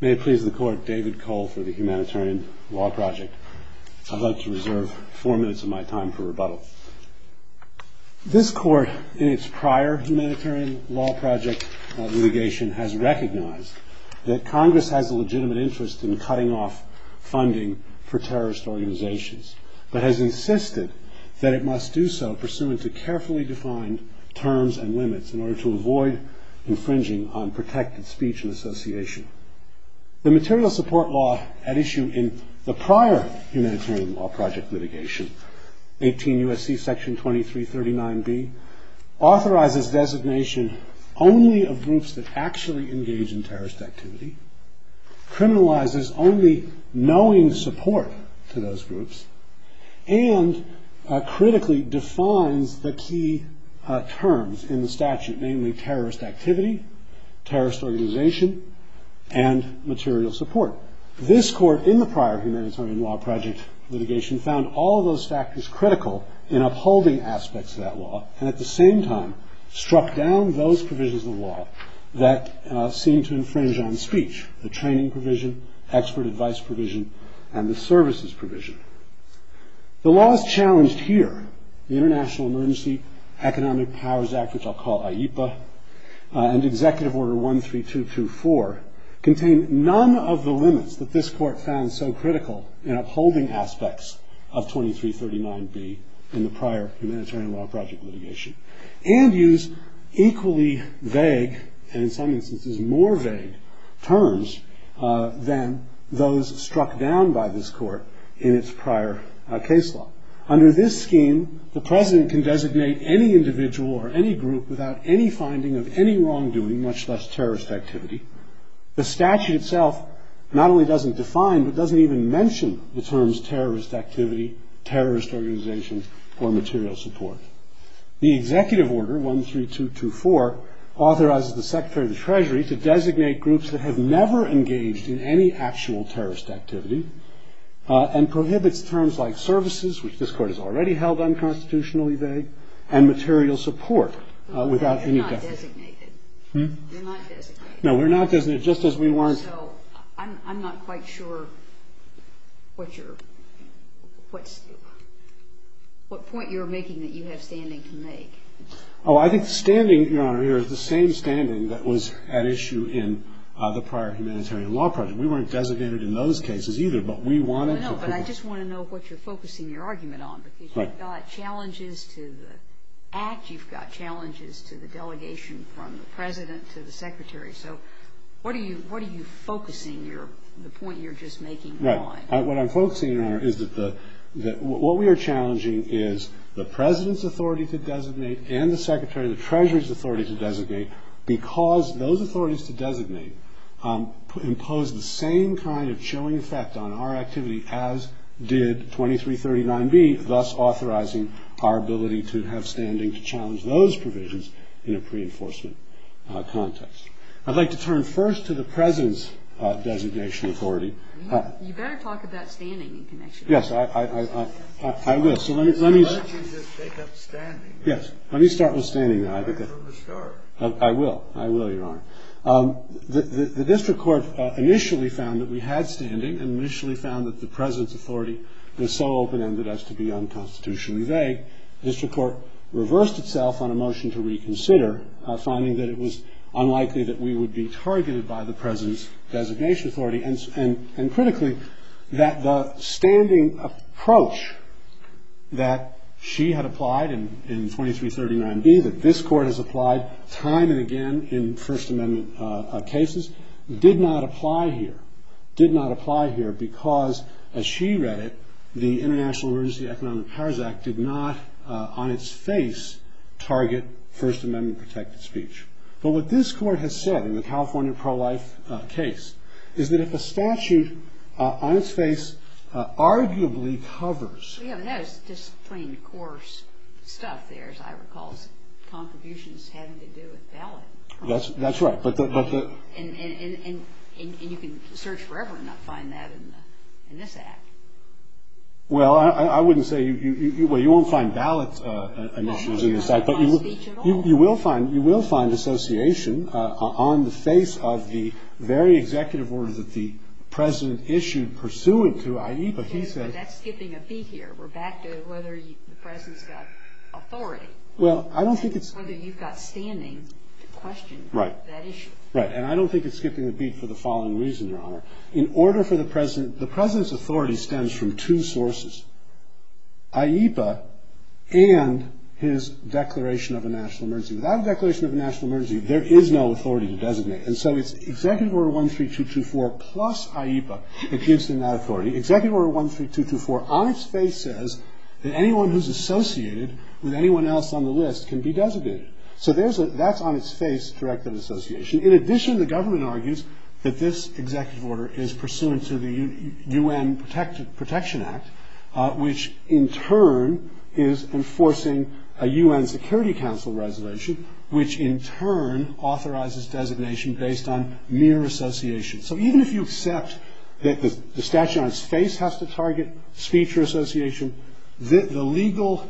May it please the Court, David Cole for the Humanitarian Law Project. I'd like to reserve four minutes of my time for rebuttal. This Court, in its prior Humanitarian Law Project litigation, has recognized that Congress has a legitimate interest in cutting off funding for terrorist organizations, but has insisted that it must do so pursuant to carefully defined terms and limits in order to avoid infringing on protected speech and association. The material support law at issue in the prior Humanitarian Law Project litigation, 18 U.S.C. Section 2339B, authorizes designation only of groups that actually engage in terrorist activity, criminalizes only knowing support to those groups, and critically defines the key terms in the statute, namely terrorist activity, terrorist organization, and material support. This Court, in the prior Humanitarian Law Project litigation, found all those factors critical in upholding aspects of that law, and at the same time struck down those provisions of the law that seemed to infringe on speech, the training provision, expert advice provision, and the services provision. The laws challenged here, the International Emergency Economic Powers Act, which I'll call IEPA, and Executive Order 13224, contain none of the limits that this Court found so critical in upholding aspects of 2339B in the prior Humanitarian Law Project litigation, and use equally vague, and in some instances more vague, terms than those struck down by this Court in its prior case law. Under this scheme, the President can designate any individual or any group without any finding of any wrongdoing, much less terrorist activity. The statute itself not only doesn't define, but doesn't even mention the terms terrorist activity, terrorist organization, or material support. that have never engaged in any actual terrorist activity, and prohibits terms like services, which this Court has already held unconstitutionally vague, and material support without any definition. You're not designated. No, we're not designated, just as we weren't. I'm not quite sure what point you're making that you have standing to make. Oh, I think standing, Your Honor, is the same standing that was at issue in the prior Humanitarian Law Project. We weren't designated in those cases either, but we wanted to prove it. No, no, but I just want to know what you're focusing your argument on, because you've got challenges to the Act, you've got challenges to the delegation from the President to the Secretary. So what are you focusing the point you're just making on? Right. What I'm focusing on is that what we are challenging is the President's authority to designate and the Secretary of the Treasury's authority to designate, because those authorities to designate impose the same kind of chilling effect on our activity as did 2339B, thus authorizing our ability to have standing to challenge those provisions in a pre-enforcement context. I'd like to turn first to the President's designation authority. You better talk about standing in connection. Yes, I will. Why don't you just pick up standing? Yes, let me start with standing. Why don't you start? I will. I will, Your Honor. The district court initially found that we had standing and initially found that the President's authority was so open-ended as to be unconstitutionally vague. The district court reversed itself on a motion to reconsider, finding that it was unlikely that we would be targeted by the President's designation authority, and critically, that the standing approach that she had applied in 2339B, that this Court has applied time and again in First Amendment cases, did not apply here. It did not apply here because, as she read it, the International Emergency Economic Powers Act did not, on its face, target First Amendment protected speech. But what this Court has said in the California pro-life case is that if a statute on its face arguably covers Yes, and that is just plain coarse stuff there, as I recall, is contributions having to do with ballot. That's right. And you can search forever and not find that in this Act. Well, I wouldn't say you won't find ballot issues in this Act, You will find association on the face of the very executive order that the President issued pursuant to IEPA. That's skipping a beat here. We're back to whether the President's got authority. Well, I don't think it's Whether you've got standing to question that issue. Right. And I don't think it's skipping a beat for the following reason, Your Honor. In order for the President, the President's authority stems from two sources, IEPA and his declaration of a national emergency. Without a declaration of a national emergency, there is no authority to designate. And so it's Executive Order 13224 plus IEPA that gives them that authority. Executive Order 13224 on its face says that anyone who's associated with anyone else on the list can be designated. So that's on its face, direct of association. In addition, the government argues that this executive order is pursuant to the U.N. Protection Act, which in turn is enforcing a U.N. Security Council Resolution, which in turn authorizes designation based on mere association. So even if you accept that the statute on its face has to target speech or association, the legal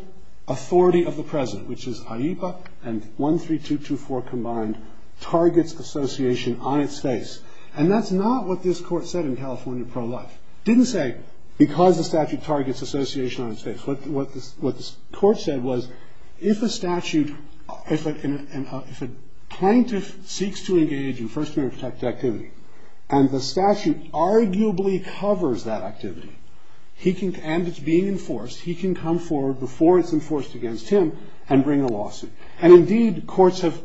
authority of the President, which is IEPA and 13224 combined, targets association on its face. And that's not what this Court said in California Pro-Life. It didn't say because the statute targets association on its face. What the Court said was if a statute, if a plaintiff seeks to engage in First Amendment-protected activity and the statute arguably covers that activity and it's being enforced, he can come forward before it's enforced against him and bring a lawsuit. And indeed, courts have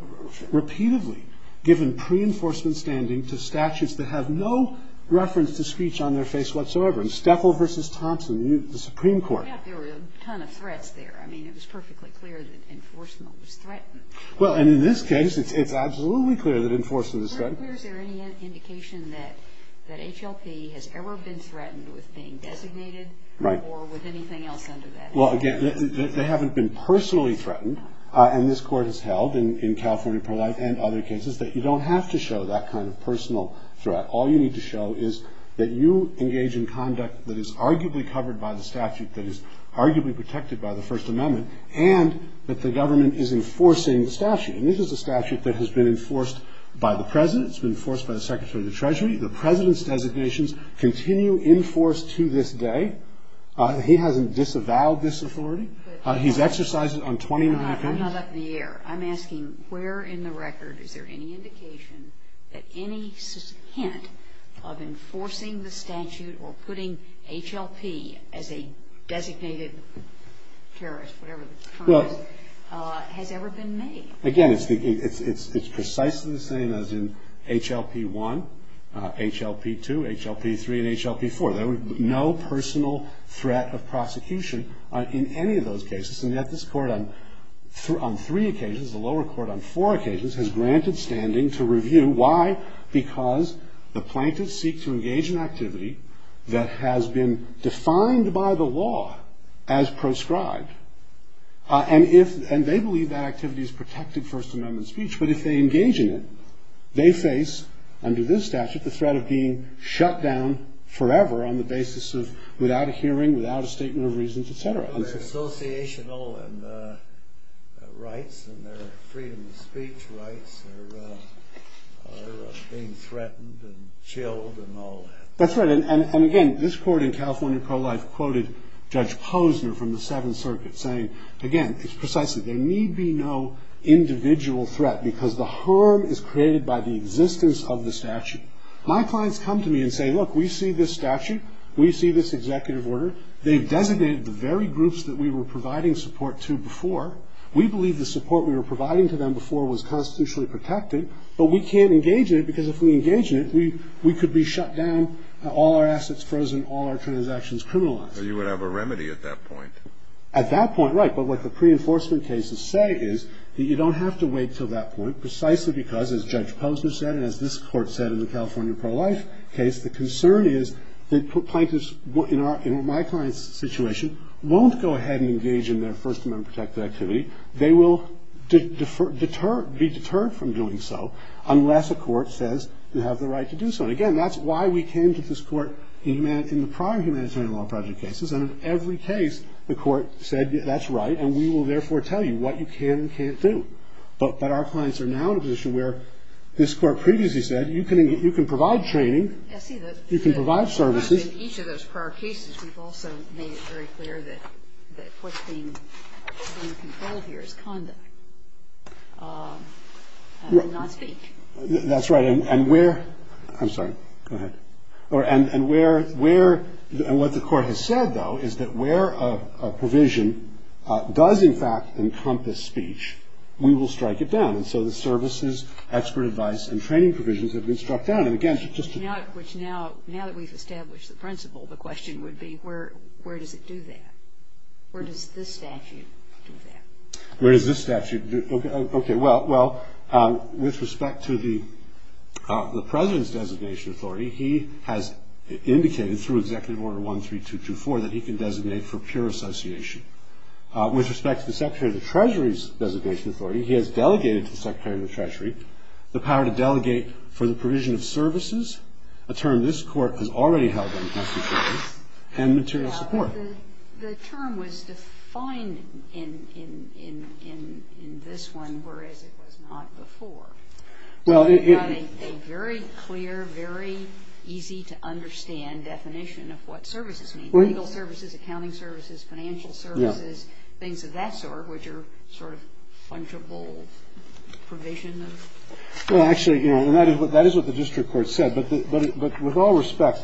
repeatedly given pre-enforcement standing to statutes that have no reference to speech on their face whatsoever. In Steffel v. Thompson, the Supreme Court. There were a ton of threats there. I mean, it was perfectly clear that enforcement was threatened. Well, and in this case, it's absolutely clear that enforcement is threatened. Is there any indication that HLP has ever been threatened with being designated or with anything else under that? Well, again, they haven't been personally threatened. And this Court has held in California Pro-Life and other cases that you don't have to show that kind of personal threat. All you need to show is that you engage in conduct that is arguably covered by the statute, that is arguably protected by the First Amendment, and that the government is enforcing the statute. And this is a statute that has been enforced by the President. It's been enforced by the Secretary of the Treasury. The President's designations continue in force to this day. He hasn't disavowed this authority. He's exercised it on 20 and a half days. I'm not up in the air. I'm asking where in the record is there any indication that any hint of enforcing the statute or putting HLP as a designated terrorist, whatever the term is, has ever been made? Again, it's precisely the same as in HLP-1, HLP-2, HLP-3, and HLP-4. There was no personal threat of prosecution in any of those cases, and yet this Court on three occasions, the lower court on four occasions, has granted standing to review. Why? Because the plaintiffs seek to engage in activity that has been defined by the law as proscribed, and they believe that activity has protected First Amendment speech. But if they engage in it, they face, under this statute, the threat of being shut down forever on the basis of without a hearing, without a statement of reasons, et cetera. Well, their associational rights and their freedom of speech rights are being threatened and chilled and all that. That's right. And, again, this Court in California pro-life quoted Judge Posner from the Seventh Circuit, saying, again, it's precisely there need be no individual threat because the harm is created by the existence of the statute. My clients come to me and say, look, we see this statute. We see this executive order. They've designated the very groups that we were providing support to before. We believe the support we were providing to them before was constitutionally protected, but we can't engage in it because if we engage in it, we could be shut down, all our assets frozen, all our transactions criminalized. So you would have a remedy at that point. At that point, right. But what the pre-enforcement cases say is that you don't have to wait until that point precisely because, as Judge Posner said and as this Court said in the California pro-life case, the concern is that plaintiffs in my client's situation won't go ahead and engage in their First Amendment protected activity. They will be deterred from doing so unless a court says they have the right to do so. And, again, that's why we came to this Court in the prior Humanitarian Law Project cases, and in every case the Court said that's right and we will, therefore, tell you what you can and can't do. But our clients are now in a position where this Court previously said you can provide training, you can provide services. In each of those prior cases, we've also made it very clear that what's being controlled here is conduct and not speech. That's right. And where – I'm sorry. Go ahead. And where – and what the Court has said, though, is that where a provision does, in fact, encompass speech, we will strike it down. And so the services, expert advice, and training provisions have been struck down. And, again, just to – Which now – now that we've established the principle, the question would be where does it do that? Where does this statute do that? Where does this statute – okay, well, with respect to the President's designation authority, he has indicated through Executive Order 13224 that he can designate for pure association. With respect to the Secretary of the Treasury's designation authority, he has delegated to the Secretary of the Treasury the power to delegate for the provision of services, a term this Court has already held unconstitutional, and material support. The term was defined in this one, whereas it was not before. Well, it – So you've got a very clear, very easy-to-understand definition of what services mean, legal services, accounting services, financial services, things of that sort, which are sort of fungible provision of – Well, actually, you know, and that is what the district court said. But with all respect,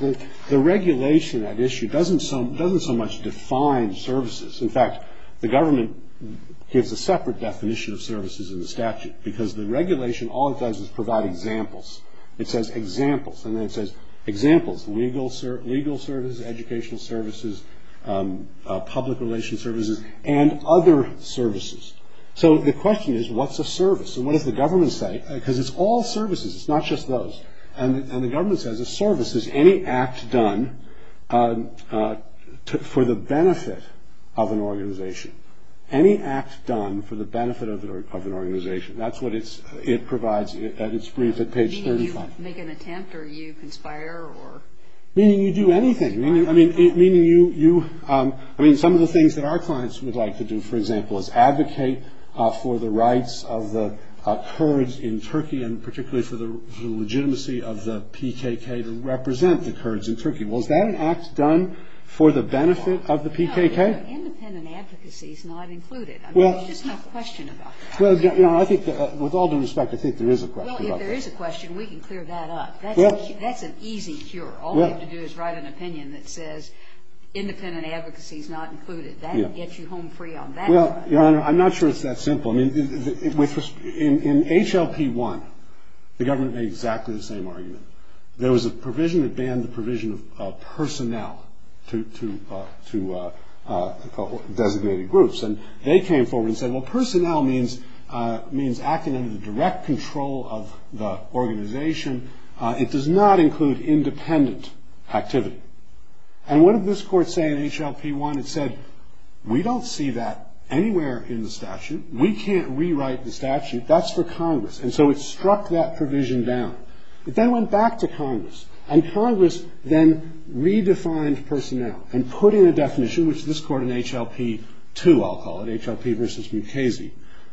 the regulation at issue doesn't so much define services. In fact, the government gives a separate definition of services in the statute, because the regulation, all it does is provide examples. It says examples, and then it says examples, legal services, educational services, public relations services, and other services. So the question is, what's a service, and what does the government say? Because it's all services. It's not just those. And the government says a service is any act done for the benefit of an organization. Any act done for the benefit of an organization. That's what it provides at its brief at page 35. Meaning you make an attempt or you conspire or – Meaning you do anything. I mean, meaning you – I mean, some of the things that our clients would like to do, for example, is advocate for the rights of the Kurds in Turkey, and particularly for the legitimacy of the PKK to represent the Kurds in Turkey. Well, is that an act done for the benefit of the PKK? No, independent advocacy is not included. I mean, there's just no question about that. Well, I think that with all due respect, I think there is a question about that. Well, if there is a question, we can clear that up. That's an easy cure. All we have to do is write an opinion that says independent advocacy is not included. That gets you home free on that. Well, Your Honor, I'm not sure it's that simple. I mean, in HLP1, the government made exactly the same argument. There was a provision that banned the provision of personnel to designated groups. And they came forward and said, well, personnel means acting under the direct control of the organization. It does not include independent activity. And what did this court say in HLP1? It said, we don't see that anywhere in the statute. We can't rewrite the statute. That's for Congress. And so it struck that provision down. It then went back to Congress, and Congress then redefined personnel and put in a definition, which this court in HLP2, I'll call it, HLP versus Mukasey,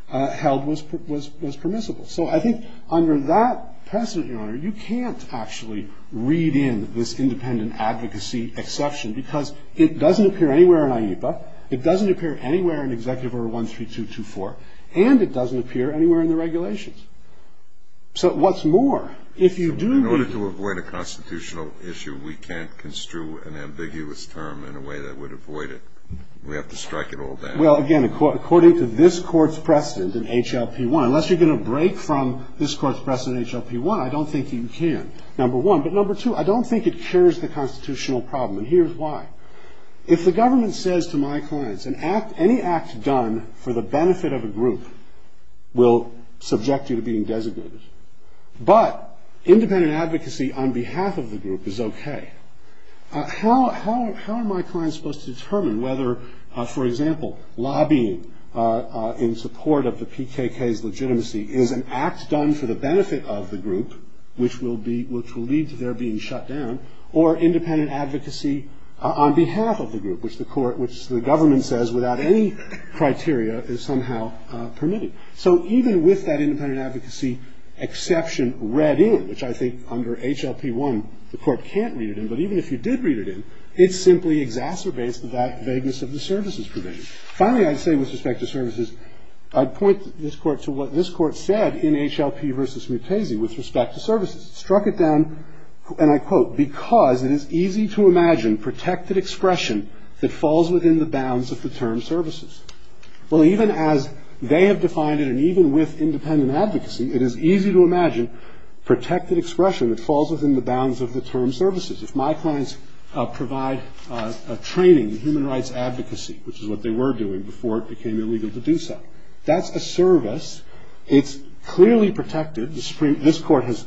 held was permissible. So I think under that precedent, Your Honor, you can't actually read in this independent advocacy exception because it doesn't appear anywhere in IEPA, it doesn't appear anywhere in Executive Order 13224, and it doesn't appear anywhere in the regulations. So what's more, if you do read it? In order to avoid a constitutional issue, we can't construe an ambiguous term in a way that would avoid it. We have to strike it all down. Well, again, according to this court's precedent in HLP1, unless you're going to break from this court's precedent in HLP1, I don't think you can, number one. But, number two, I don't think it cures the constitutional problem. And here's why. If the government says to my clients, any act done for the benefit of a group will subject you to being designated, but independent advocacy on behalf of the group is okay, how am I supposed to determine whether, for example, lobbying in support of the PKK's legitimacy is an act done for the benefit of the group, which will lead to their being shut down, or independent advocacy on behalf of the group, which the government says without any criteria is somehow permitted. So even with that independent advocacy exception read in, which I think under HLP1 the court can't read it in, but even if you did read it in, it simply exacerbates that vagueness of the services provision. Finally, I'd say with respect to services, I'd point this court to what this court said in HLP v. Mutasi with respect to services. Struck it down, and I quote, because it is easy to imagine protected expression that falls within the bounds of the term services. Well, even as they have defined it, and even with independent advocacy, it is easy to imagine protected expression that falls within the bounds of the term services. If my clients provide a training in human rights advocacy, which is what they were doing before it became illegal to do so, that's a service. It's clearly protected. This court has,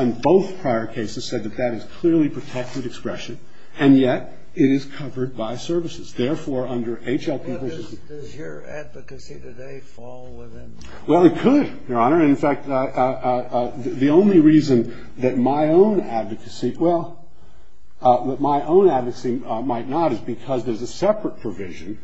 in both prior cases, said that that is clearly protected expression, and yet it is covered by services. Therefore, under HLP v. Mutasi... Well, does your advocacy today fall within... Well, it could, Your Honor. In fact, the only reason that my own advocacy... Well, that my own advocacy might not is because there's a separate provision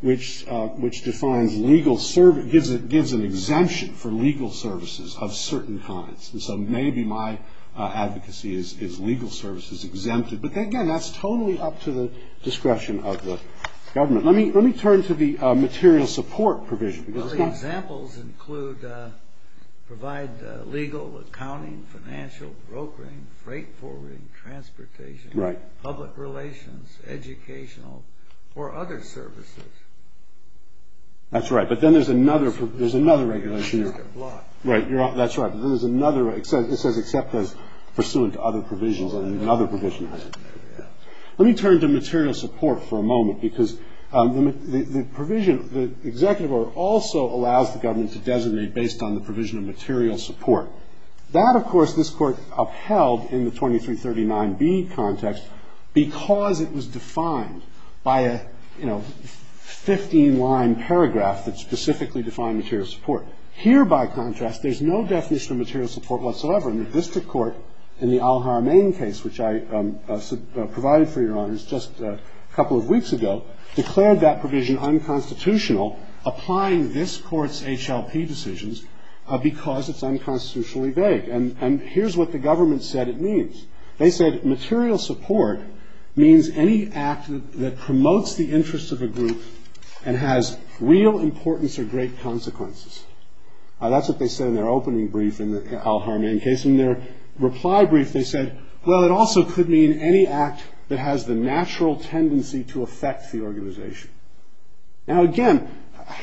which gives an exemption for legal services of certain kinds. And so maybe my advocacy is legal services exempted. But again, that's totally up to the discretion of the government. Let me turn to the material support provision. Well, the examples include provide legal, accounting, financial, brokering, freight forwarding, transportation, public relations, educational, or other services. That's right. But then there's another regulation. Right. That's right. There's another... It says except as pursuant to other provisions, and another provision has it. Let me turn to material support for a moment because the executive order also allows the government to designate based on the provision of material support. That, of course, this Court upheld in the 2339B context because it was defined by a, you know, 15-line paragraph that specifically defined material support. Here, by contrast, there's no definition of material support whatsoever. And the district court in the Al-Haramain case, which I provided for Your Honors just a couple of weeks ago, declared that provision unconstitutional, applying this Court's HLP decisions because it's unconstitutionally vague. And here's what the government said it means. They said material support means any act that promotes the interests of a group and has real importance or great consequences. That's what they said in their opening brief in the Al-Haramain case. In their reply brief, they said, well, it also could mean any act that has the natural tendency to affect the organization. Now, again,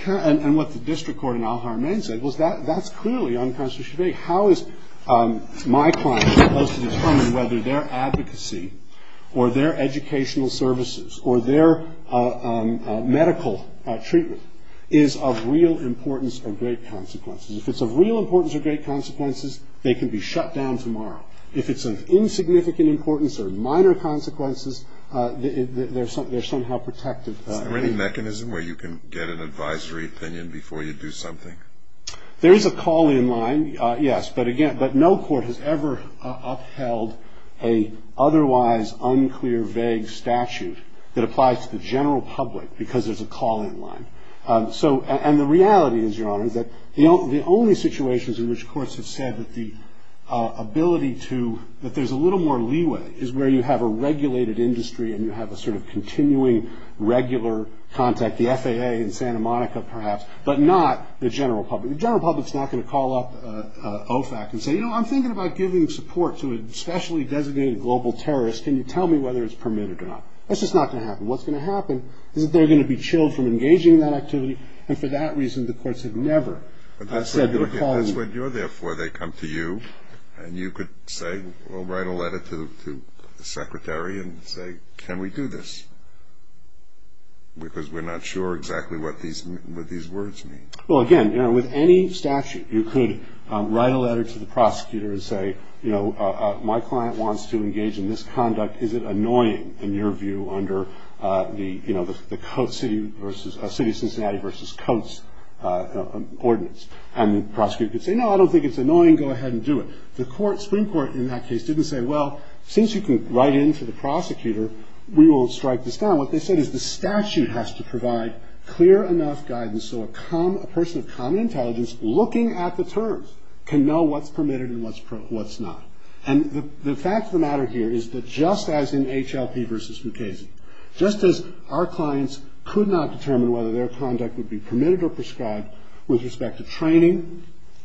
and what the district court in Al-Haramain said was that that's clearly unconstitutionally vague. How is my client supposed to determine whether their advocacy or their educational services or their medical treatment is of real importance or great consequences? If it's of real importance or great consequences, they can be shut down tomorrow. If it's of insignificant importance or minor consequences, they're somehow protected. Is there any mechanism where you can get an advisory opinion before you do something? There is a call-in line, yes. But, again, but no court has ever upheld an otherwise unclear, vague statute that applies to the general public because there's a call-in line. And the reality is, Your Honor, is that the only situations in which courts have said that the ability to – that there's a little more leeway is where you have a regulated industry and you have a sort of continuing regular contact, the FAA in Santa Monica perhaps, but not the general public. The general public's not going to call up OFAC and say, You know, I'm thinking about giving support to a specially designated global terrorist. Can you tell me whether it's permitted or not? That's just not going to happen. What's going to happen is that they're going to be chilled from engaging in that activity, and for that reason the courts have never said that a call-in – But that's what you're there for. They come to you, and you could say or write a letter to the secretary and say, Can we do this? Because we're not sure exactly what these words mean. Well, again, you know, with any statute, you could write a letter to the prosecutor and say, You know, my client wants to engage in this conduct. Is it annoying in your view under the, you know, the city of Cincinnati versus Coates ordinance? And the prosecutor could say, No, I don't think it's annoying. Go ahead and do it. The Supreme Court in that case didn't say, Well, since you could write in to the prosecutor, we will strike this down. What they said is the statute has to provide clear enough guidance so a person of common intelligence looking at the terms can know what's permitted and what's not. And the fact of the matter here is that just as in HLP versus Mukasey, just as our clients could not determine whether their conduct would be permitted or prescribed with respect to training,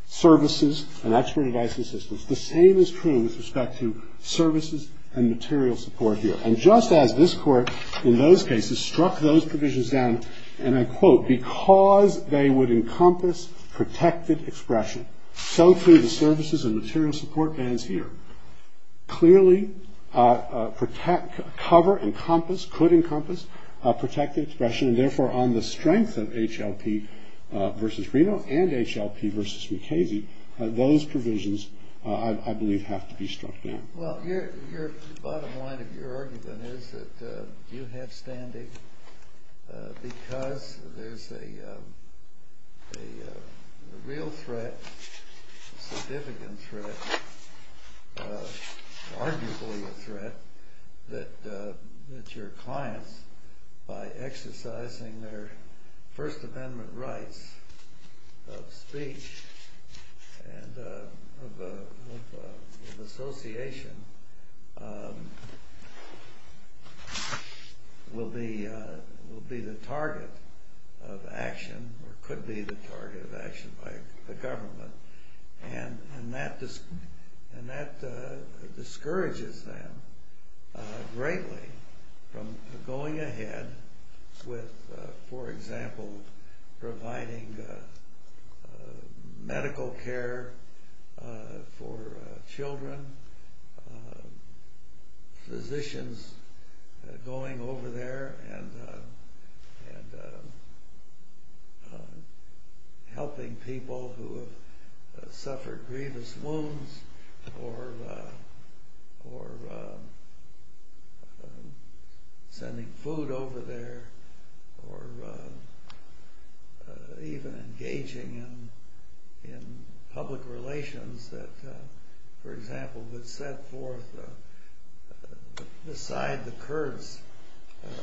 services, and expert advice and assistance, the same is true with respect to services and material support here. And just as this Court in those cases struck those provisions down, and I quote, Because they would encompass protected expression, so too the services and material support bans here clearly cover, encompass, could encompass protected expression, and therefore on the strength of HLP versus Reno and HLP versus Mukasey, those provisions I believe have to be struck down. Well, the bottom line of your argument is that you have standing because there's a real threat, significant threat, arguably a threat, that your clients, by exercising their First Amendment rights of speech and of association, will be the target of action or could be the target of action by the government, and that discourages them greatly from going ahead with, for example, providing medical care for children, physicians going over there and helping people who have suffered grievous wounds or sending food over there, or even engaging in public relations that, for example, would set forth the side the Kurds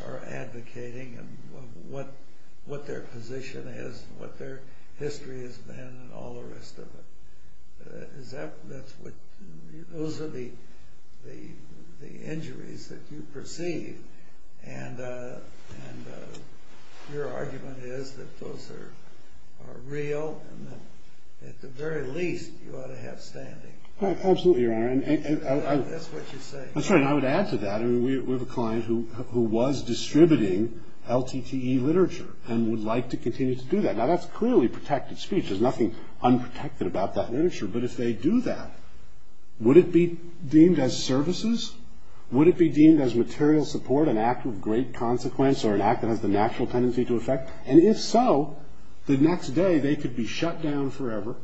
are advocating and what their position is and what their history has been and all the rest of it. Those are the injuries that you perceive, and your argument is that those are real and that at the very least you ought to have standing. Absolutely, Your Honor. That's what you say. That's right, and I would add to that. We have a client who was distributing LTTE literature and would like to continue to do that. Now, that's clearly protected speech. There's nothing unprotected about that literature, but if they do that, would it be deemed as services? Would it be deemed as material support, an act with great consequence or an act that has the natural tendency to affect? And if so, the next day they could be shut down forever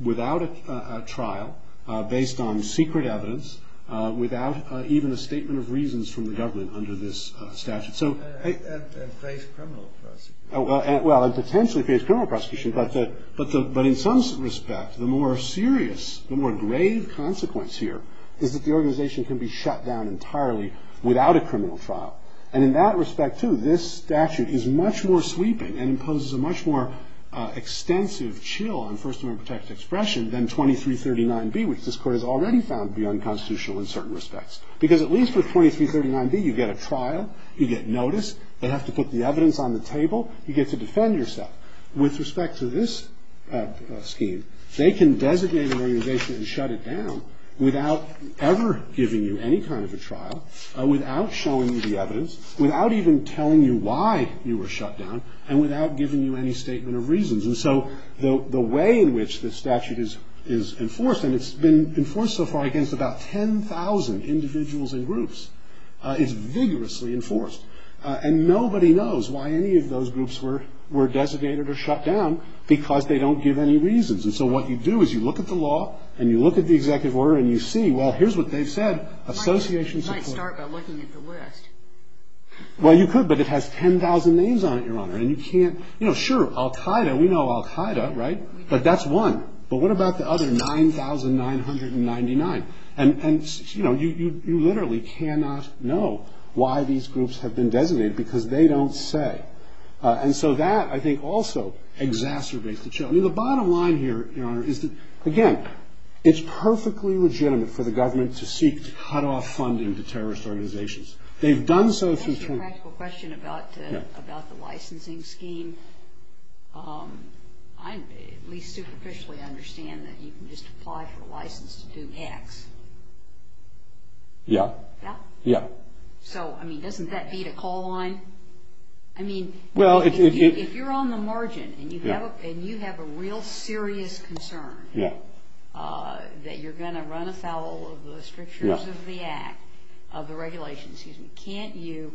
without a trial, based on secret evidence, without even a statement of reasons from the government under this statute. And face criminal prosecution. Well, and potentially face criminal prosecution, but in some respect the more serious, the more grave consequence here is that the organization can be shut down entirely without a criminal trial. And in that respect, too, this statute is much more sweeping and imposes a much more extensive chill on First Amendment protected expression than 2339B, which this Court has already found to be unconstitutional in certain respects. Because at least with 2339B you get a trial, you get notice, they have to put the evidence on the table, you get to defend yourself. With respect to this scheme, they can designate an organization and shut it down without ever giving you any kind of a trial, without showing you the evidence, without even telling you why you were shut down, and without giving you any statement of reasons. And so the way in which this statute is enforced, and it's been enforced so far against about 10,000 individuals and groups, is vigorously enforced. And nobody knows why any of those groups were designated or shut down because they don't give any reasons. And so what you do is you look at the law, and you look at the executive order, and you see, well, here's what they've said, association support. You might start by looking at the list. Well, you could, but it has 10,000 names on it, Your Honor. And you can't, you know, sure, Al-Qaeda, we know Al-Qaeda, right? But that's one. But what about the other 9,999? And, you know, you literally cannot know why these groups have been designated because they don't say. And so that, I think, also exacerbates the challenge. I mean, the bottom line here, Your Honor, is that, again, it's perfectly legitimate for the government to seek to cut off funding to terrorist organizations. They've done so since 2010. That's a practical question about the licensing scheme. I at least superficially understand that you can just apply for a license to do X. Yeah. Yeah? Yeah. So, I mean, doesn't that beat a call line? I mean, if you're on the margin and you have a real serious concern that you're going to run afoul of the strictures of the act, of the regulations, can't you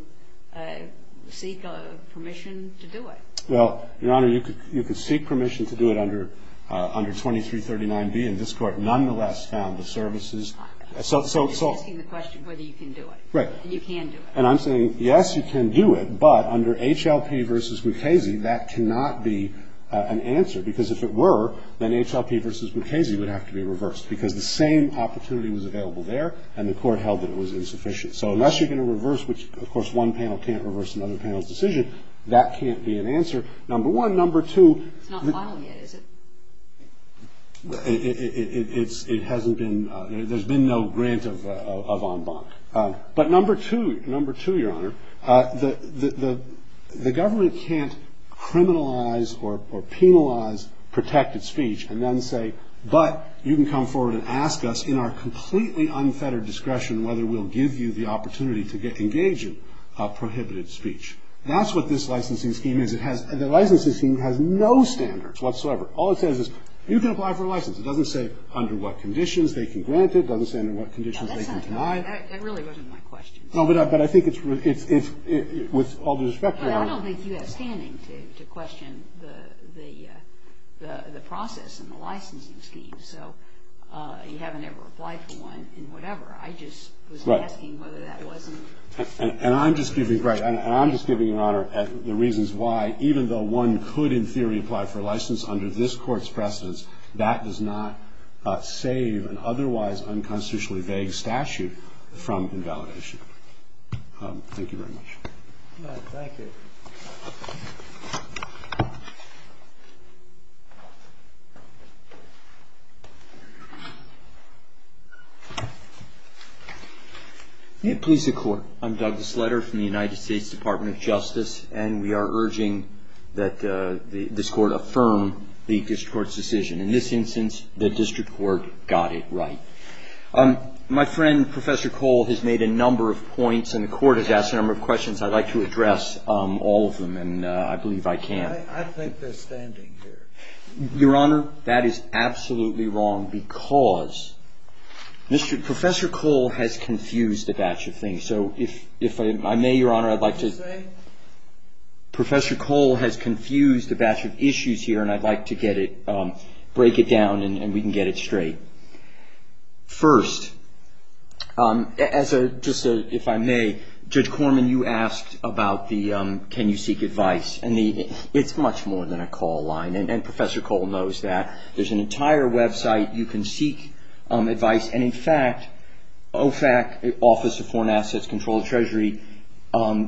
seek permission to do it? Well, Your Honor, you could seek permission to do it under 2339B in this court. The court nonetheless found the services. You're asking the question whether you can do it. Right. And you can do it. And I'm saying, yes, you can do it, but under HLP v. Mukasey, that cannot be an answer. Because if it were, then HLP v. Mukasey would have to be reversed because the same opportunity was available there, and the court held that it was insufficient. So unless you're going to reverse, which, of course, one panel can't reverse another panel's decision, that can't be an answer, number one. Number two. It's not final yet, is it? It hasn't been. There's been no grant of en banc. But number two, Your Honor, the government can't criminalize or penalize protected speech and then say, but you can come forward and ask us in our completely unfettered discretion whether we'll give you the opportunity to engage in prohibited speech. That's what this licensing scheme is. The licensing scheme has no standards whatsoever. All it says is you can apply for a license. It doesn't say under what conditions they can grant it. It doesn't say under what conditions they can deny it. No, that's not true. That really wasn't my question. No, but I think it's, with all due respect, Your Honor. I don't think you have standing to question the process and the licensing scheme. So you haven't ever applied for one in whatever. I just was asking whether that wasn't. And I'm just giving, right, and I'm just giving Your Honor the reasons why, even though one could, in theory, apply for a license under this Court's precedence, that does not save an otherwise unconstitutionally vague statute from invalidation. Thank you very much. Thank you. Please, the Court. I'm Douglas Sletter from the United States Department of Justice, and we are urging that this Court affirm the district court's decision. In this instance, the district court got it right. My friend, Professor Cole, has made a number of points, and the Court has asked a number of questions. I'd like to address all of them, and I believe I can. I think they're standing here. Your Honor, that is absolutely wrong because Professor Cole has confused a batch of things. So if I may, Your Honor, I'd like to say Professor Cole has confused a batch of issues here, and I'd like to get it, break it down, and we can get it straight. First, just if I may, Judge Corman, you asked about the can you seek advice, and it's much more than a call line, and Professor Cole knows that. There's an entire website. You can seek advice. And, in fact, OFAC, Office of Foreign Assets Control and Treasury,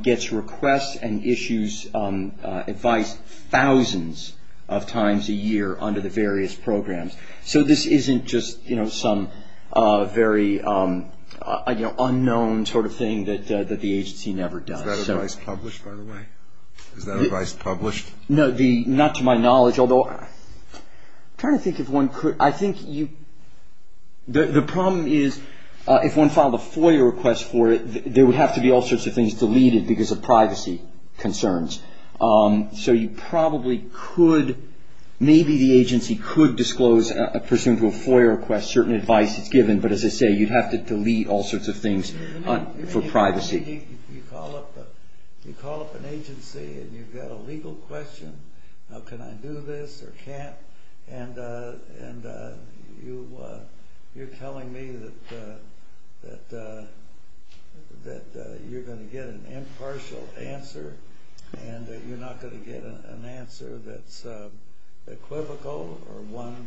gets requests and issues advice thousands of times a year under the various programs. So this isn't just some very unknown sort of thing that the agency never does. Is that advice published, by the way? Is that advice published? Not to my knowledge, although I'm trying to think if one could. I think the problem is if one filed a FOIA request for it, there would have to be all sorts of things deleted because of privacy concerns. So you probably could, maybe the agency could disclose, pursuant to a FOIA request, certain advice that's given. But, as I say, you'd have to delete all sorts of things for privacy. You call up an agency and you've got a legal question, can I do this or can't, and you're telling me that you're going to get an impartial answer and that you're not going to get an answer that's equivocal or one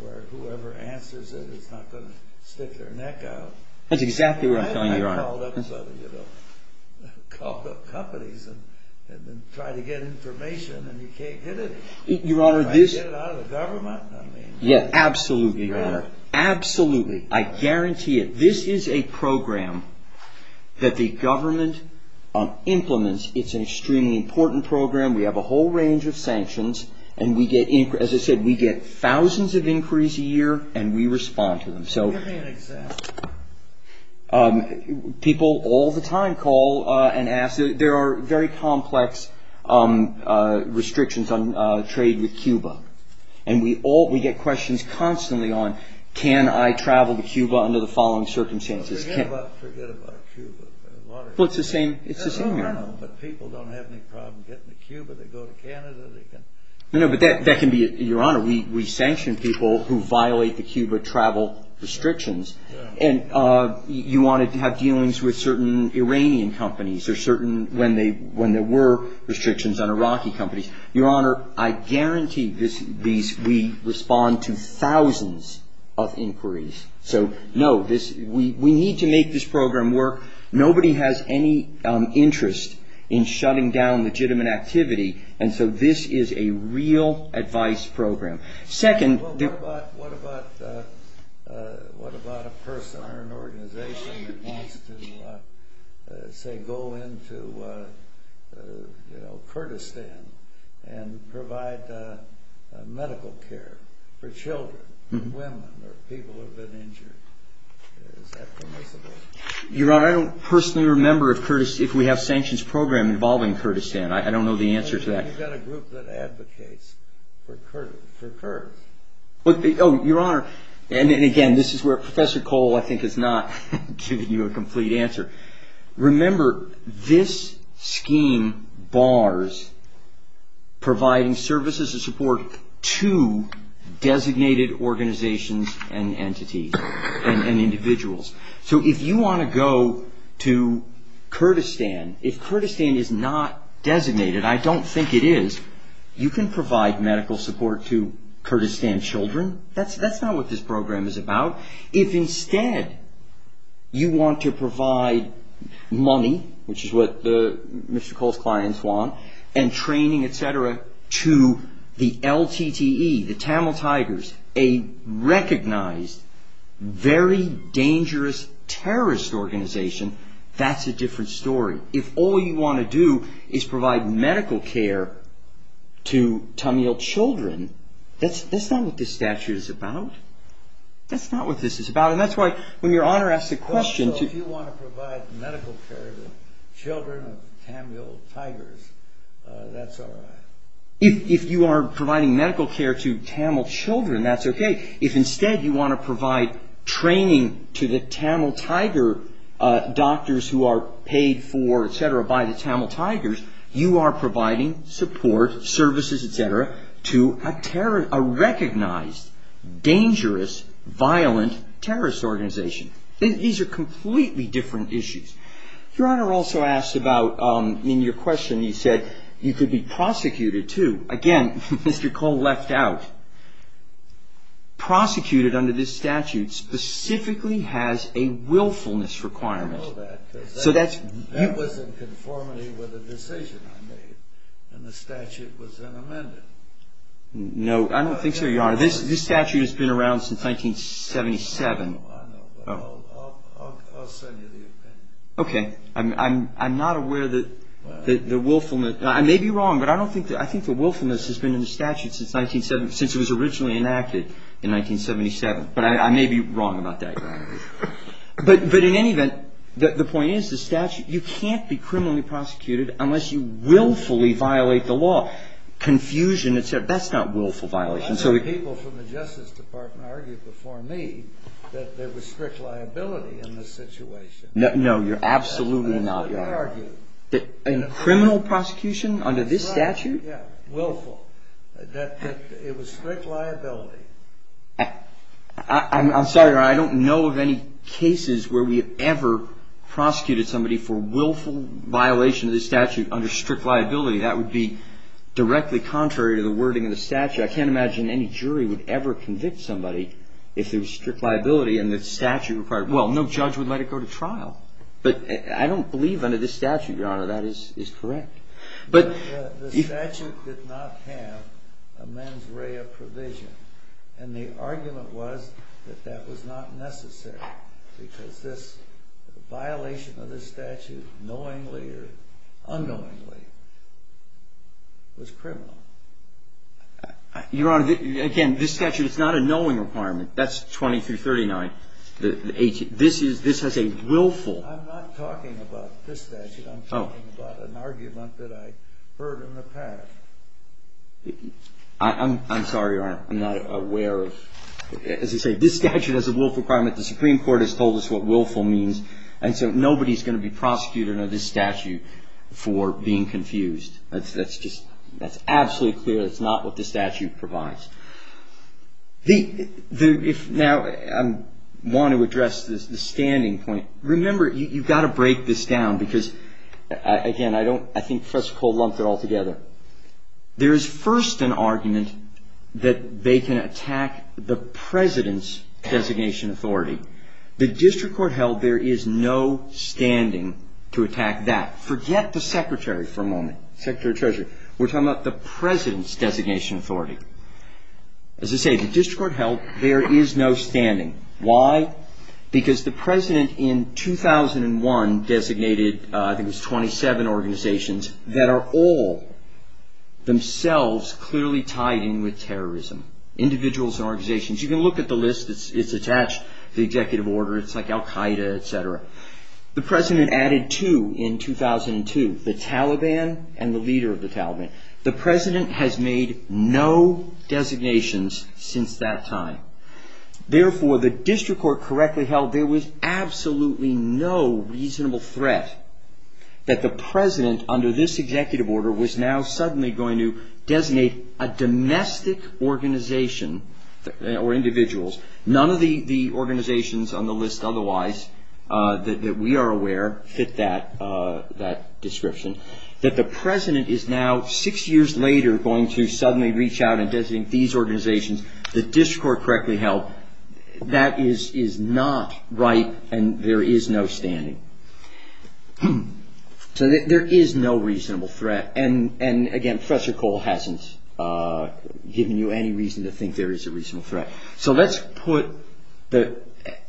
where whoever answers it is not going to stick their neck out. You call up companies and try to get information and you can't get it. Can I get it out of the government? Yes, absolutely, Your Honor. Absolutely. I guarantee it. This is a program that the government implements. It's an extremely important program. We have a whole range of sanctions. As I said, we get thousands of inquiries a year and we respond to them. Give me an example. People all the time call and ask. There are very complex restrictions on trade with Cuba. We get questions constantly on can I travel to Cuba under the following circumstances. Forget about Cuba. It's the same here. People don't have any problem getting to Cuba. They go to Canada. That can be, Your Honor, we sanction people who violate the Cuba travel restrictions and you want to have dealings with certain Iranian companies or certain when there were restrictions on Iraqi companies. Your Honor, I guarantee we respond to thousands of inquiries. So, no, we need to make this program work. Nobody has any interest in shutting down legitimate activity and so this is a real advice program. What about a person or an organization that wants to, say, go into Kurdistan and provide medical care for children, for women, or people who have been injured? Is that permissible? Your Honor, I don't personally remember if we have sanctions program involving Kurdistan. I don't know the answer to that. We've got a group that advocates for Kurds. Oh, Your Honor, and again, this is where Professor Cole, I think, has not given you a complete answer. Remember, this scheme bars providing services and support to designated organizations and entities and individuals. So if you want to go to Kurdistan, if Kurdistan is not designated, I don't think it is, you can provide medical support to Kurdistan children. That's not what this program is about. If instead you want to provide money, which is what Mr. Cole's clients want, and training, et cetera, to the LTTE, the Tamil Tigers, a recognized, very dangerous terrorist organization, that's a different story. If all you want to do is provide medical care to Tamil children, that's not what this statute is about. That's not what this is about, and that's why when Your Honor asked the question... So if you want to provide medical care to children of Tamil Tigers, that's all right. If you are providing medical care to Tamil children, that's okay. If instead you want to provide training to the Tamil Tiger doctors who are paid for, et cetera, by the Tamil Tigers, you are providing support, services, et cetera, to a recognized, dangerous, violent terrorist organization. These are completely different issues. Your Honor also asked about, in your question, you said you could be prosecuted too. Again, Mr. Cole left out. Prosecuted under this statute specifically has a willfulness requirement. I know that because that was in conformity with a decision I made, and the statute was then amended. No, I don't think so, Your Honor. This statute has been around since 1977. I know, but I'll send you the opinion. Okay. I'm not aware that the willfulness... I may be wrong, but I think the willfulness has been in the statute since it was originally enacted in 1977. But I may be wrong about that, Your Honor. But in any event, the point is, you can't be criminally prosecuted unless you willfully violate the law. Confusion, et cetera, that's not willful violation. Lots of people from the Justice Department argued before me that there was strict liability in this situation. No, Your Honor, absolutely not. In criminal prosecution under this statute? Willful. It was strict liability. I'm sorry, Your Honor. I don't know of any cases where we have ever prosecuted somebody for willful violation of this statute under strict liability. That would be directly contrary to the wording of the statute. I can't imagine any jury would ever convict somebody if there was strict liability and the statute required it. Well, no judge would let it go to trial. But I don't believe under this statute, Your Honor, that is correct. But the statute did not have a mens rea provision, and the argument was that that was not necessary because this violation of this statute knowingly or unknowingly was criminal. Your Honor, again, this statute is not a knowing requirement. That's 20 through 39. This has a willful. I'm not talking about this statute. I'm talking about an argument that I heard in the past. I'm sorry, Your Honor. I'm not aware of. As I say, this statute has a willful requirement. The Supreme Court has told us what willful means. And so nobody's going to be prosecuted under this statute for being confused. That's just absolutely clear. That's not what this statute provides. Now, I want to address the standing point. Remember, you've got to break this down because, again, I think Professor Cole lumped it all together. There is first an argument that they can attack the President's designation authority. The district court held there is no standing to attack that. Forget the Secretary for a moment, Secretary of Treasury. We're talking about the President's designation authority. As I say, the district court held there is no standing. Why? Because the President in 2001 designated, I think it was 27 organizations, that are all themselves clearly tied in with terrorism, individuals and organizations. You can look at the list. It's attached to the executive order. It's like al Qaeda, et cetera. The President has made no designations since that time. Therefore, the district court correctly held there was absolutely no reasonable threat that the President, under this executive order, was now suddenly going to designate a domestic organization or individuals. None of the organizations on the list otherwise that we are aware fit that description. That the President is now, six years later, going to suddenly reach out and designate these organizations. The district court correctly held that is not right and there is no standing. So there is no reasonable threat. And, again, Professor Cole hasn't given you any reason to think there is a reasonable threat. So let's put the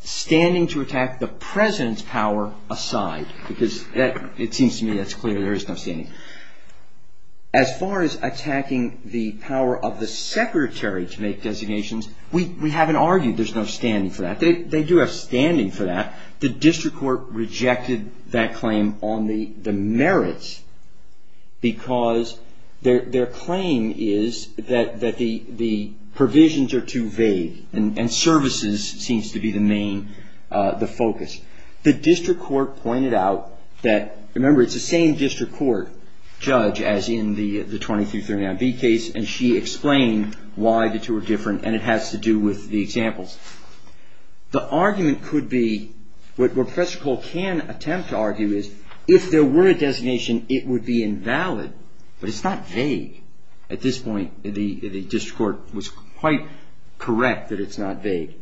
standing to attack the President's power aside. Because it seems to me that's clear. There is no standing. As far as attacking the power of the Secretary to make designations, we haven't argued there's no standing for that. They do have standing for that. The district court rejected that claim on the merits because their claim is that the provisions are too vague and services seems to be the main focus. The district court pointed out that, remember, it's the same district court judge as in the 2339B case and she explained why the two are different and it has to do with the examples. The argument could be, what Professor Cole can attempt to argue is, if there were a designation, it would be invalid. But it's not vague. At this point, the district court was quite correct that it's not vague.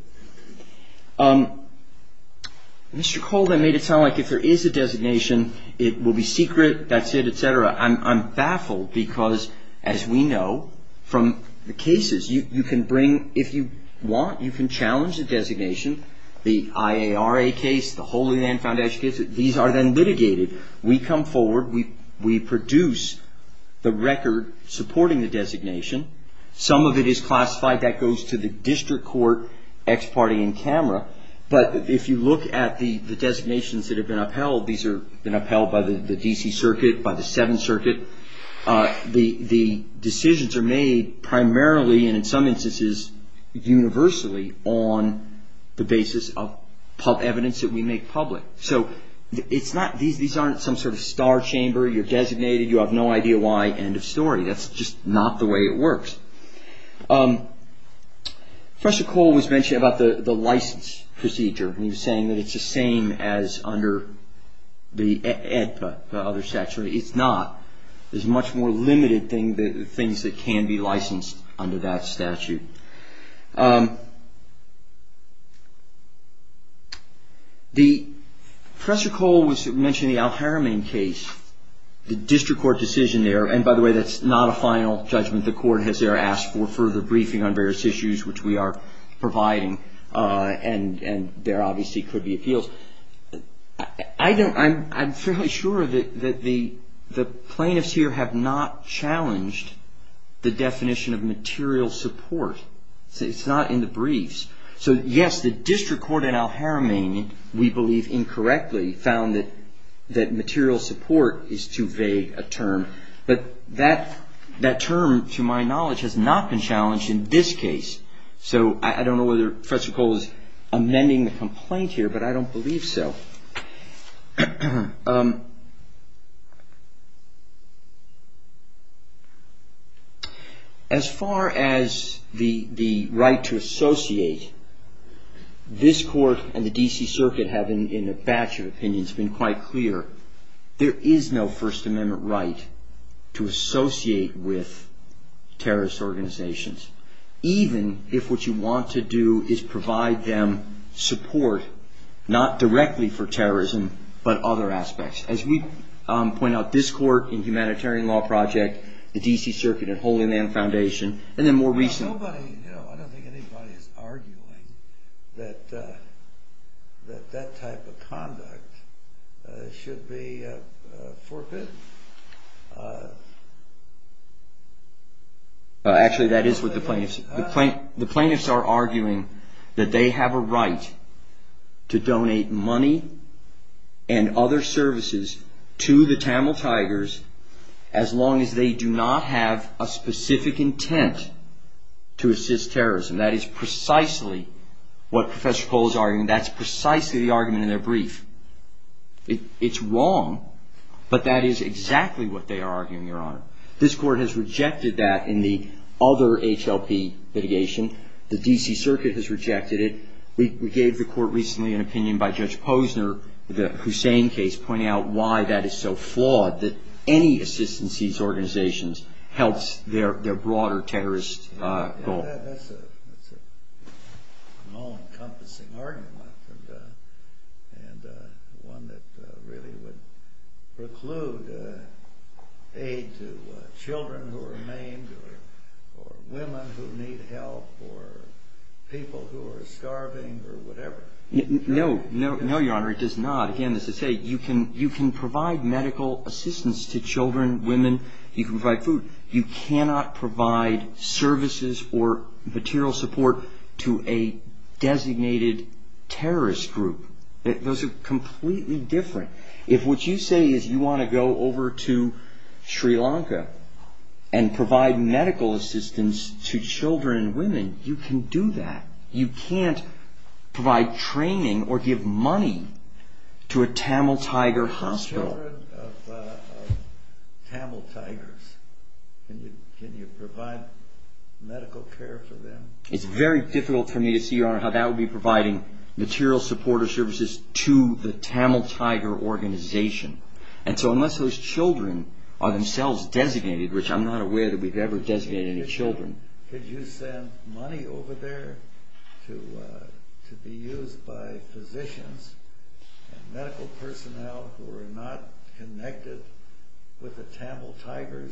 Mr. Cole then made it sound like if there is a designation, it will be secret, that's it, etc. I'm baffled because, as we know, from the cases, you can bring, if you want, you can challenge a designation. The IARA case, the Holy Land Foundation case, these are then litigated. We come forward, we produce the record supporting the designation. Some of it is classified. That goes to the district court, ex parte in camera, but if you look at the designations that have been upheld, these have been upheld by the D.C. Circuit, by the Seventh Circuit. The decisions are made primarily and, in some instances, universally on the basis of evidence that we make public. So these aren't some sort of star chamber. You're designated. You have no idea why. End of story. That's just not the way it works. Professor Cole was mentioning about the license procedure. He was saying that it's the same as under the OEDPA, the other statute. It's not. There's much more limited things that can be licensed under that statute. Professor Cole was mentioning the Al-Haramain case, the district court decision there. And, by the way, that's not a final judgment. The court has there asked for further briefing on various issues, which we are providing. And there obviously could be appeals. I'm fairly sure that the plaintiffs here have not challenged the definition of material support. It's not in the briefs. So, yes, the district court in Al-Haramain, we believe incorrectly, found that material support is too vague a term. But that term, to my knowledge, has not been challenged in this case. So I don't know whether Professor Cole is amending the complaint here, but I don't believe so. As far as the right to associate, this court and the D.C. Circuit have, in a batch of opinions, been quite clear. There is no First Amendment right to associate with terrorist organizations, even if what you want to do is provide them support, not directly for terrorism, but other aspects. As we point out, this court in Humanitarian Law Project, the D.C. Circuit, and Holy Land Foundation, and then more recently. I don't think anybody is arguing that that type of conduct should be forbidden. Actually, that is what the plaintiffs are arguing, that they have a right to donate money and other services to the Tamil Tigers, as long as they do not have a specific intent to assist terrorism. That is precisely what Professor Cole is arguing. That's precisely the argument in their brief. It's wrong, but that is exactly what they are arguing, Your Honor. This court has rejected that in the other H.L.P. litigation. The D.C. Circuit has rejected it. We gave the court recently an opinion by Judge Posner, the Hussein case, pointing out why that is so flawed, that any assistance to these organizations helps their broader terrorist goal. Well, that's an all-encompassing argument, and one that really would preclude aid to children who are maimed, or women who need help, or people who are starving, or whatever. No, Your Honor, it does not. Again, as I say, you can provide medical assistance to children, women, you can provide food. You cannot provide services or material support to a designated terrorist group. Those are completely different. If what you say is you want to go over to Sri Lanka and provide medical assistance to children and women, you can do that. You can't provide training or give money to a Tamil Tiger hospital. Children of Tamil Tigers, can you provide medical care for them? It's very difficult for me to see, Your Honor, how that would be providing material support or services to the Tamil Tiger organization. And so unless those children are themselves designated, which I'm not aware that we've ever designated any children. And could you send money over there to be used by physicians and medical personnel who are not connected with the Tamil Tigers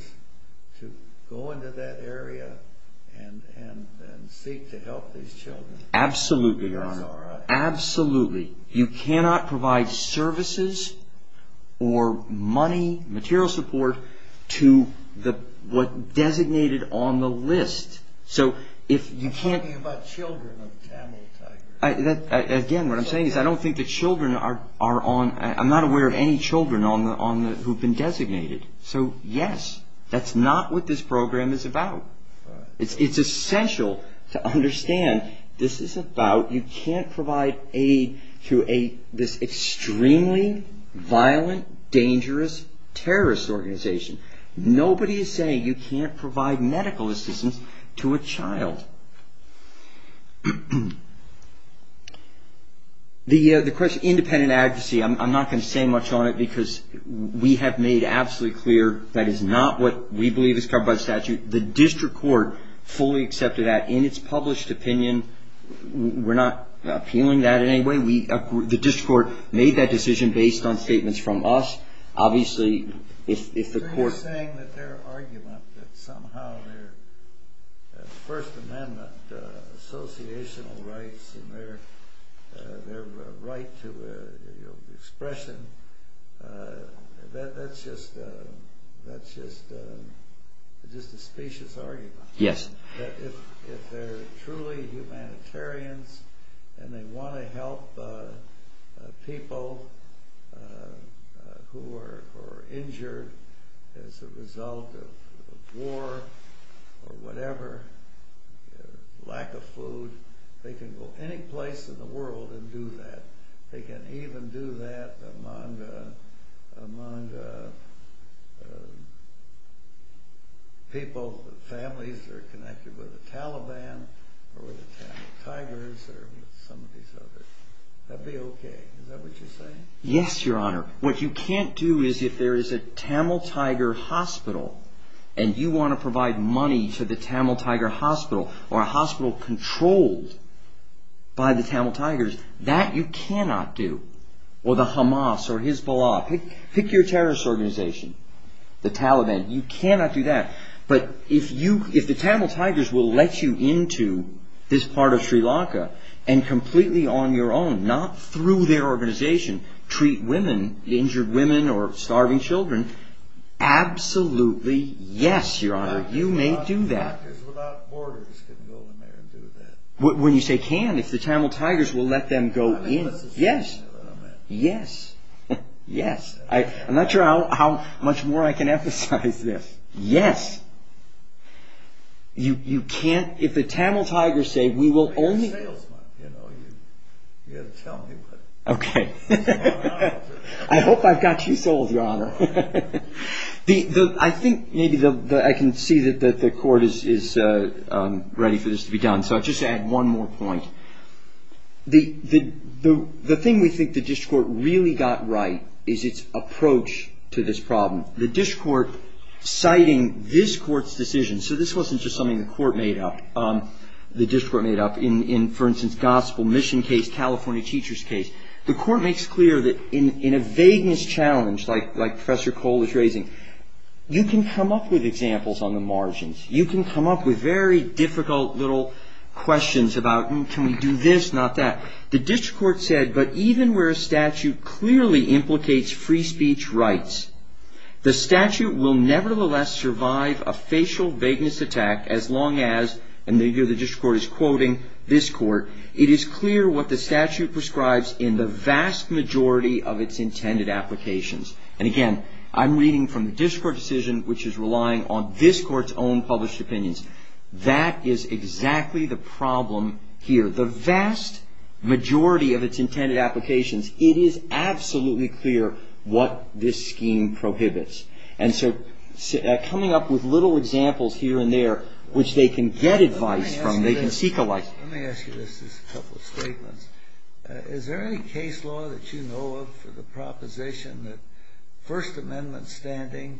to go into that area and seek to help these children? Absolutely, Your Honor. Absolutely. You cannot provide services or money, material support, to what's designated on the list. You're talking about children of Tamil Tigers. Again, what I'm saying is I'm not aware of any children who have been designated. So, yes, that's not what this program is about. It's essential to understand this is about you can't provide aid to this extremely violent, dangerous terrorist organization. Nobody is saying you can't provide medical assistance to a child. The question of independent advocacy, I'm not going to say much on it because we have made absolutely clear that is not what we believe is covered by statute. The district court fully accepted that in its published opinion. We're not appealing that in any way. The district court made that decision based on statements from us. You're saying that their argument that somehow their First Amendment associational rights and their right to expression, that's just a specious argument. Yes. If they're truly humanitarians and they want to help people who are injured as a result of war or whatever, lack of food, they can go any place in the world and do that. They can even do that among people, families that are connected with the Taliban or the Tamil Tigers or some of these others. That would be okay. Is that what you're saying? Yes, Your Honor. What you can't do is if there is a Tamil Tiger hospital and you want to provide money for the Tamil Tiger hospital or a hospital controlled by the Tamil Tigers, that you cannot do. Or the Hamas or Hezbollah. Pick your terrorist organization. The Taliban. You cannot do that. But if the Tamil Tigers will let you into this part of Sri Lanka and completely on your own, not through their organization, treat women, injured women or starving children, absolutely yes, Your Honor. You may do that. When you say can, if the Tamil Tigers will let them go in. Yes. Yes. Yes. I'm not sure how much more I can emphasize this. Yes. You can't. If the Tamil Tigers say we will only. Okay. I hope I've got you sold, Your Honor. I think maybe I can see that the court is ready for this to be done. So I'll just add one more point. The thing we think the district court really got right is its approach to this problem. The district court citing this court's decision. So this wasn't just something the court made up. The district court made up in, for instance, gospel mission case, California teacher's case. The court makes clear that in a vagueness challenge like Professor Cole is raising, you can come up with examples on the margins. You can come up with very difficult little questions about can we do this, not that. The district court said, but even where a statute clearly implicates free speech rights, the statute will nevertheless survive a facial vagueness attack as long as, and here the district court is quoting this court, it is clear what the statute prescribes in the vast majority of its intended applications. And again, I'm reading from the district court decision, which is relying on this court's own published opinions. That is exactly the problem here. The vast majority of its intended applications, it is absolutely clear what this scheme prohibits. And so coming up with little examples here and there, which they can get advice from, they can seek alike. Let me ask you this, just a couple of statements. Is there any case law that you know of for the proposition that First Amendment standing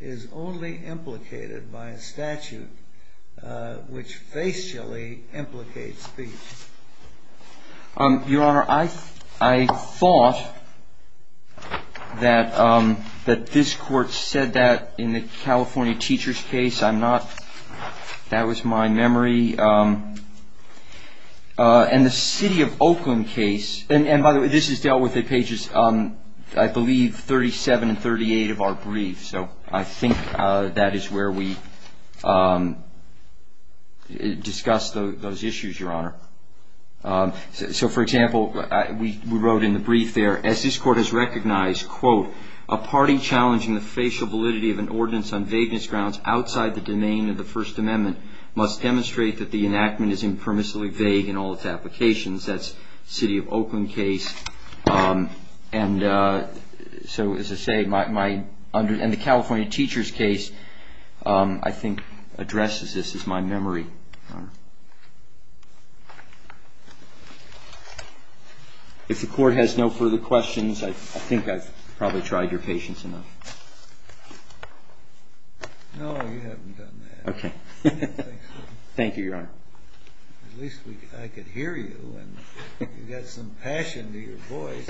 is only implicated by a statute which facially implicates speech? Your Honor, I thought that this court said that in the California teacher's case. That was my memory. In the city of Oakland case, and by the way, this is dealt with at pages, I believe, 37 and 38 of our brief. So I think that is where we discuss those issues, Your Honor. So, for example, we wrote in the brief there, as this court has recognized, quote, a party challenging the facial validity of an ordinance on vagueness grounds outside the domain of the First Amendment must demonstrate that the enactment is impermissibly vague in all its applications. That's city of Oakland case. And so, as I say, in the California teacher's case, I think addresses this as my memory. Thank you, Your Honor. If the court has no further questions, I think I've probably tried your patience enough. No, you haven't done that. Okay. Thank you, Your Honor. At least I could hear you, and you've got some passion to your voice.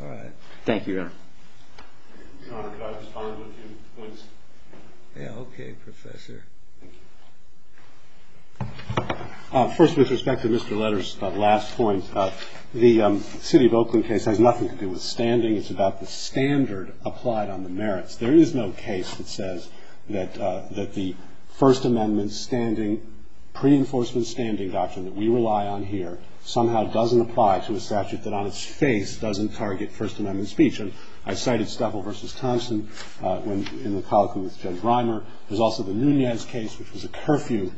All right. Thank you, Your Honor. Your Honor, could I respond with two points? Yeah, okay, Professor. First, with respect to Mr. Leder's last point, the city of Oakland case has nothing to do with standing. It's about the standard applied on the merits. There is no case that says that the First Amendment standing, pre-enforcement standing doctrine that we rely on here somehow doesn't apply to a statute that on its face doesn't target First Amendment speech. And I cited Steffel v. Thompson in the colloquy with Jen Reimer. There's also the Nunez case, which was a curfew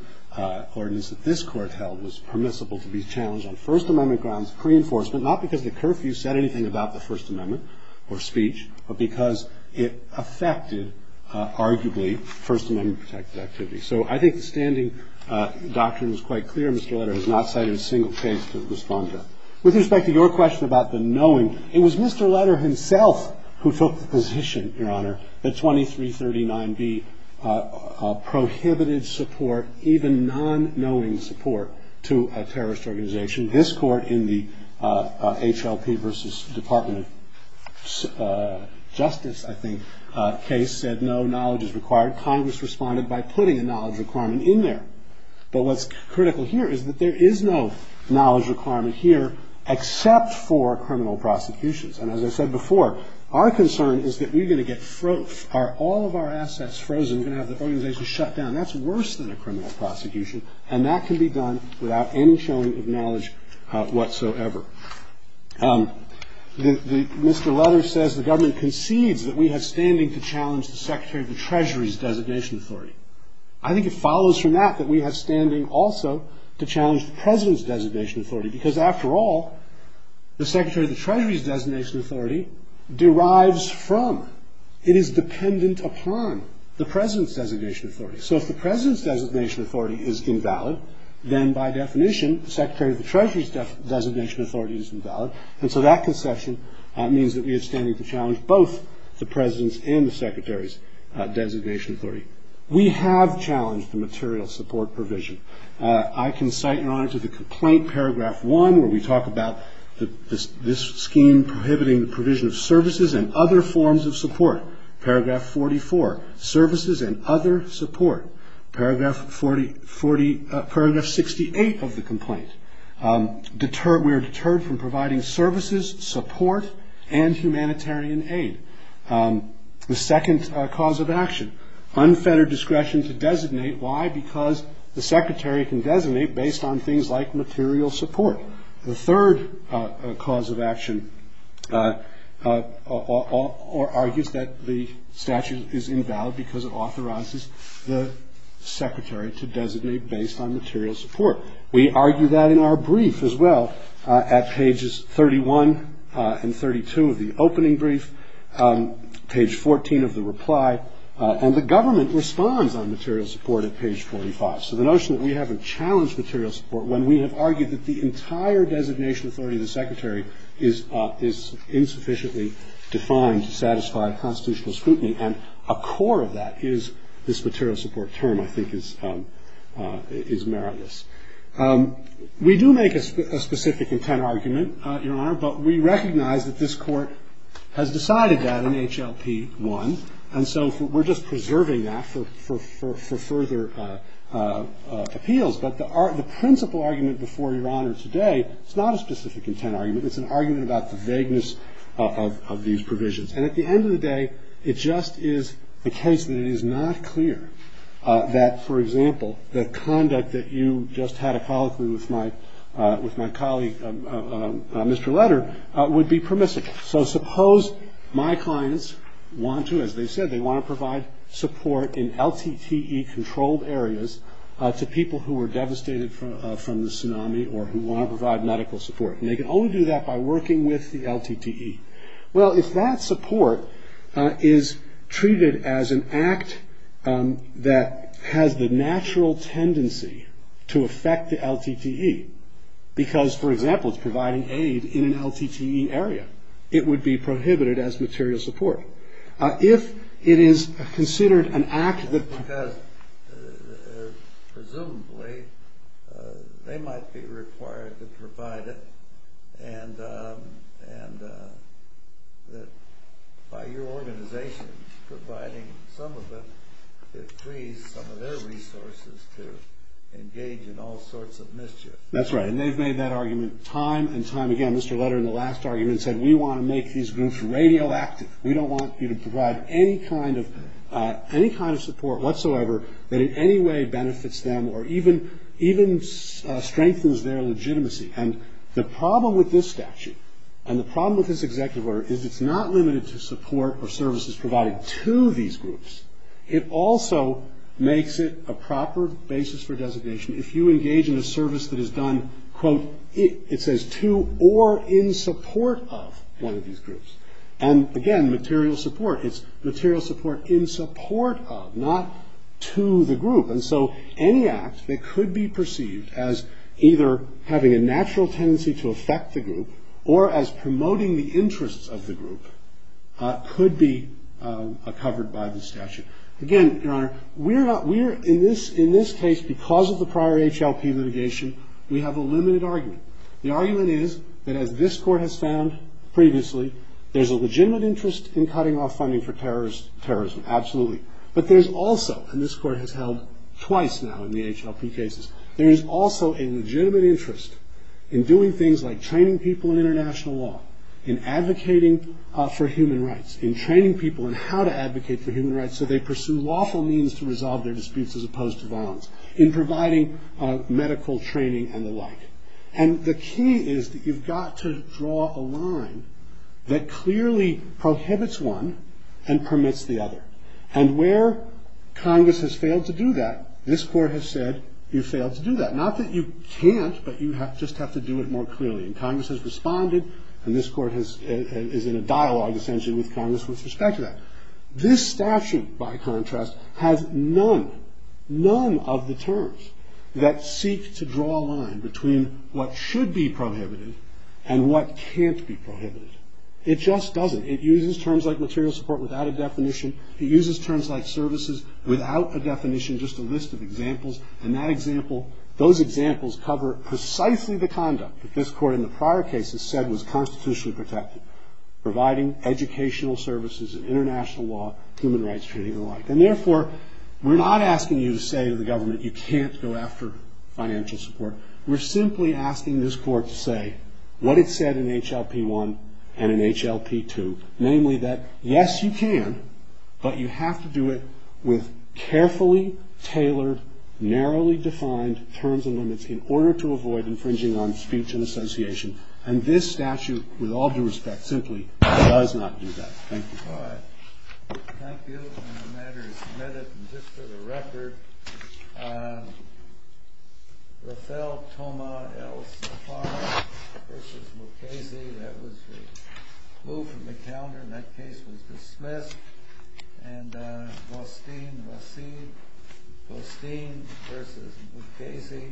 ordinance that this court held was permissible to be challenged on First Amendment grounds, pre-enforcement, not because the curfew said anything about the First Amendment or speech, but because it affected, arguably, First Amendment-protected activity. So I think the standing doctrine is quite clear. Mr. Leder has not cited a single case to respond to. With respect to your question about the knowing, it was Mr. Leder himself who took the position, Your Honor, that 2339B prohibited support, even non-knowing support, to a terrorist organization. This court in the HLP v. Department of Justice, I think, case said no knowledge is required. Congress responded by putting a knowledge requirement in there. But what's critical here is that there is no knowledge requirement here except for criminal prosecutions. And as I said before, our concern is that we're going to get all of our assets frozen. We're going to have the organization shut down. That's worse than a criminal prosecution, and that can be done without any showing of knowledge whatsoever. Mr. Leder says the government concedes that we have standing to challenge the Secretary of the Treasury's designation authority. I think it follows from that that we have standing, also, to challenge the President's designation authority because, after all, the Secretary of the Treasury's designation authority derives from – it is dependent upon – the President's designation authority. So if the President's designation authority is invalid, then, by definition, the Secretary of the Treasury's designation authority is invalid. So that conception means that we have standing to challenge both the President's and the Secretary's designation authority. We have challenged the material support provision. I can cite and honor to the complaint, paragraph 1, where we talk about this scheme prohibiting the provision of services and other forms of support. Paragraph 44, services and other support. Paragraph 68 of the complaint, we are deterred from providing services, support, and humanitarian aid. The second cause of action, unfettered discretion to designate. Why? Because the Secretary can designate based on things like material support. The third cause of action argues that the statute is invalid because it authorizes the Secretary to designate based on material support. We argue that in our brief as well at pages 31 and 32 of the opening brief, page 14 of the reply. And the government responds on material support at page 45. So the notion that we haven't challenged material support when we have argued that the entire designation authority of the Secretary is insufficiently defined to satisfy constitutional scrutiny. And a core of that is this material support term, I think, is meritless. We do make a specific intent argument, Your Honor, but we recognize that this Court has decided that in HLP1. And so we're just preserving that for further appeals. But the principle argument before Your Honor today, it's not a specific intent argument. It's an argument about the vagueness of these provisions. And at the end of the day, it just is the case that it is not clear that, for example, the conduct that you just had ecologically with my colleague, Mr. Letter, would be permissible. So suppose my clients want to, as they said, they want to provide support in LTTE-controlled areas to people who were devastated from the tsunami or who want to provide medical support. And they can only do that by working with the LTTE. Well, if that support is treated as an act that has the natural tendency to affect the LTTE, because, for example, it's providing aid in an LTTE area, it would be prohibited as material support. If it is considered an act that because presumably they might be required to provide it and that by your organization providing some of them, it frees some of their resources to engage in all sorts of mischief. That's right. And they've made that argument time and time again. Mr. Letter, in the last argument, said we want to make these groups radioactive. We don't want you to provide any kind of support whatsoever that in any way benefits them or even strengthens their legitimacy. And the problem with this statute and the problem with this executive order is it's not limited to support or services provided to these groups. It also makes it a proper basis for designation if you engage in a service that is done, quote, it says, to or in support of one of these groups. And, again, material support. It's material support in support of, not to the group. And so any act that could be perceived as either having a natural tendency to affect the group or as promoting the interests of the group could be covered by the statute. Again, Your Honor, we're not we're in this in this case because of the prior HLP litigation, we have a limited argument. The argument is that as this court has found previously, there's a legitimate interest in cutting off funding for terrorism, absolutely. But there's also, and this court has held twice now in the HLP cases, there is also a legitimate interest in doing things like training people in international law, in advocating for human rights, in training people in how to advocate for human rights so they pursue lawful means to resolve their disputes as opposed to violence, in providing medical training and the like. And the key is that you've got to draw a line that clearly prohibits one and permits the other. And where Congress has failed to do that, this court has said you failed to do that. Not that you can't, but you just have to do it more clearly. And Congress has responded, and this court is in a dialogue, essentially, with Congress with respect to that. This statute, by contrast, has none, none of the terms that seek to draw a line between what should be prohibited and what can't be prohibited. It just doesn't. It uses terms like material support without a definition. It uses terms like services without a definition, just a list of examples. And that example, those examples cover precisely the conduct that this court in the prior cases said was constitutionally protected, providing educational services and international law, human rights training and the like. And therefore, we're not asking you to say to the government you can't go after financial support. We're simply asking this court to say what it said in HLP1 and in HLP2, namely that, yes, you can, but you have to do it with carefully tailored, narrowly defined terms and limits in order to avoid infringing on speech and association. And this statute, with all due respect, simply does not do that. Thank you. All right. Thank you. And the matter is submitted. And just for the record, Rafel Toma El Safar v. Mukasey, that was moved from the calendar. And that case was dismissed. And Ghostine V. Mukasey,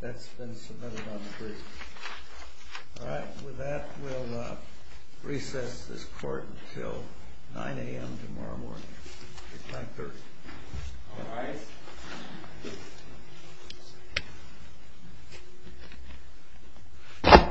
that's been submitted on the brief. All right. And with that, we'll recess this court until 9 a.m. tomorrow morning. Thank you. All rise.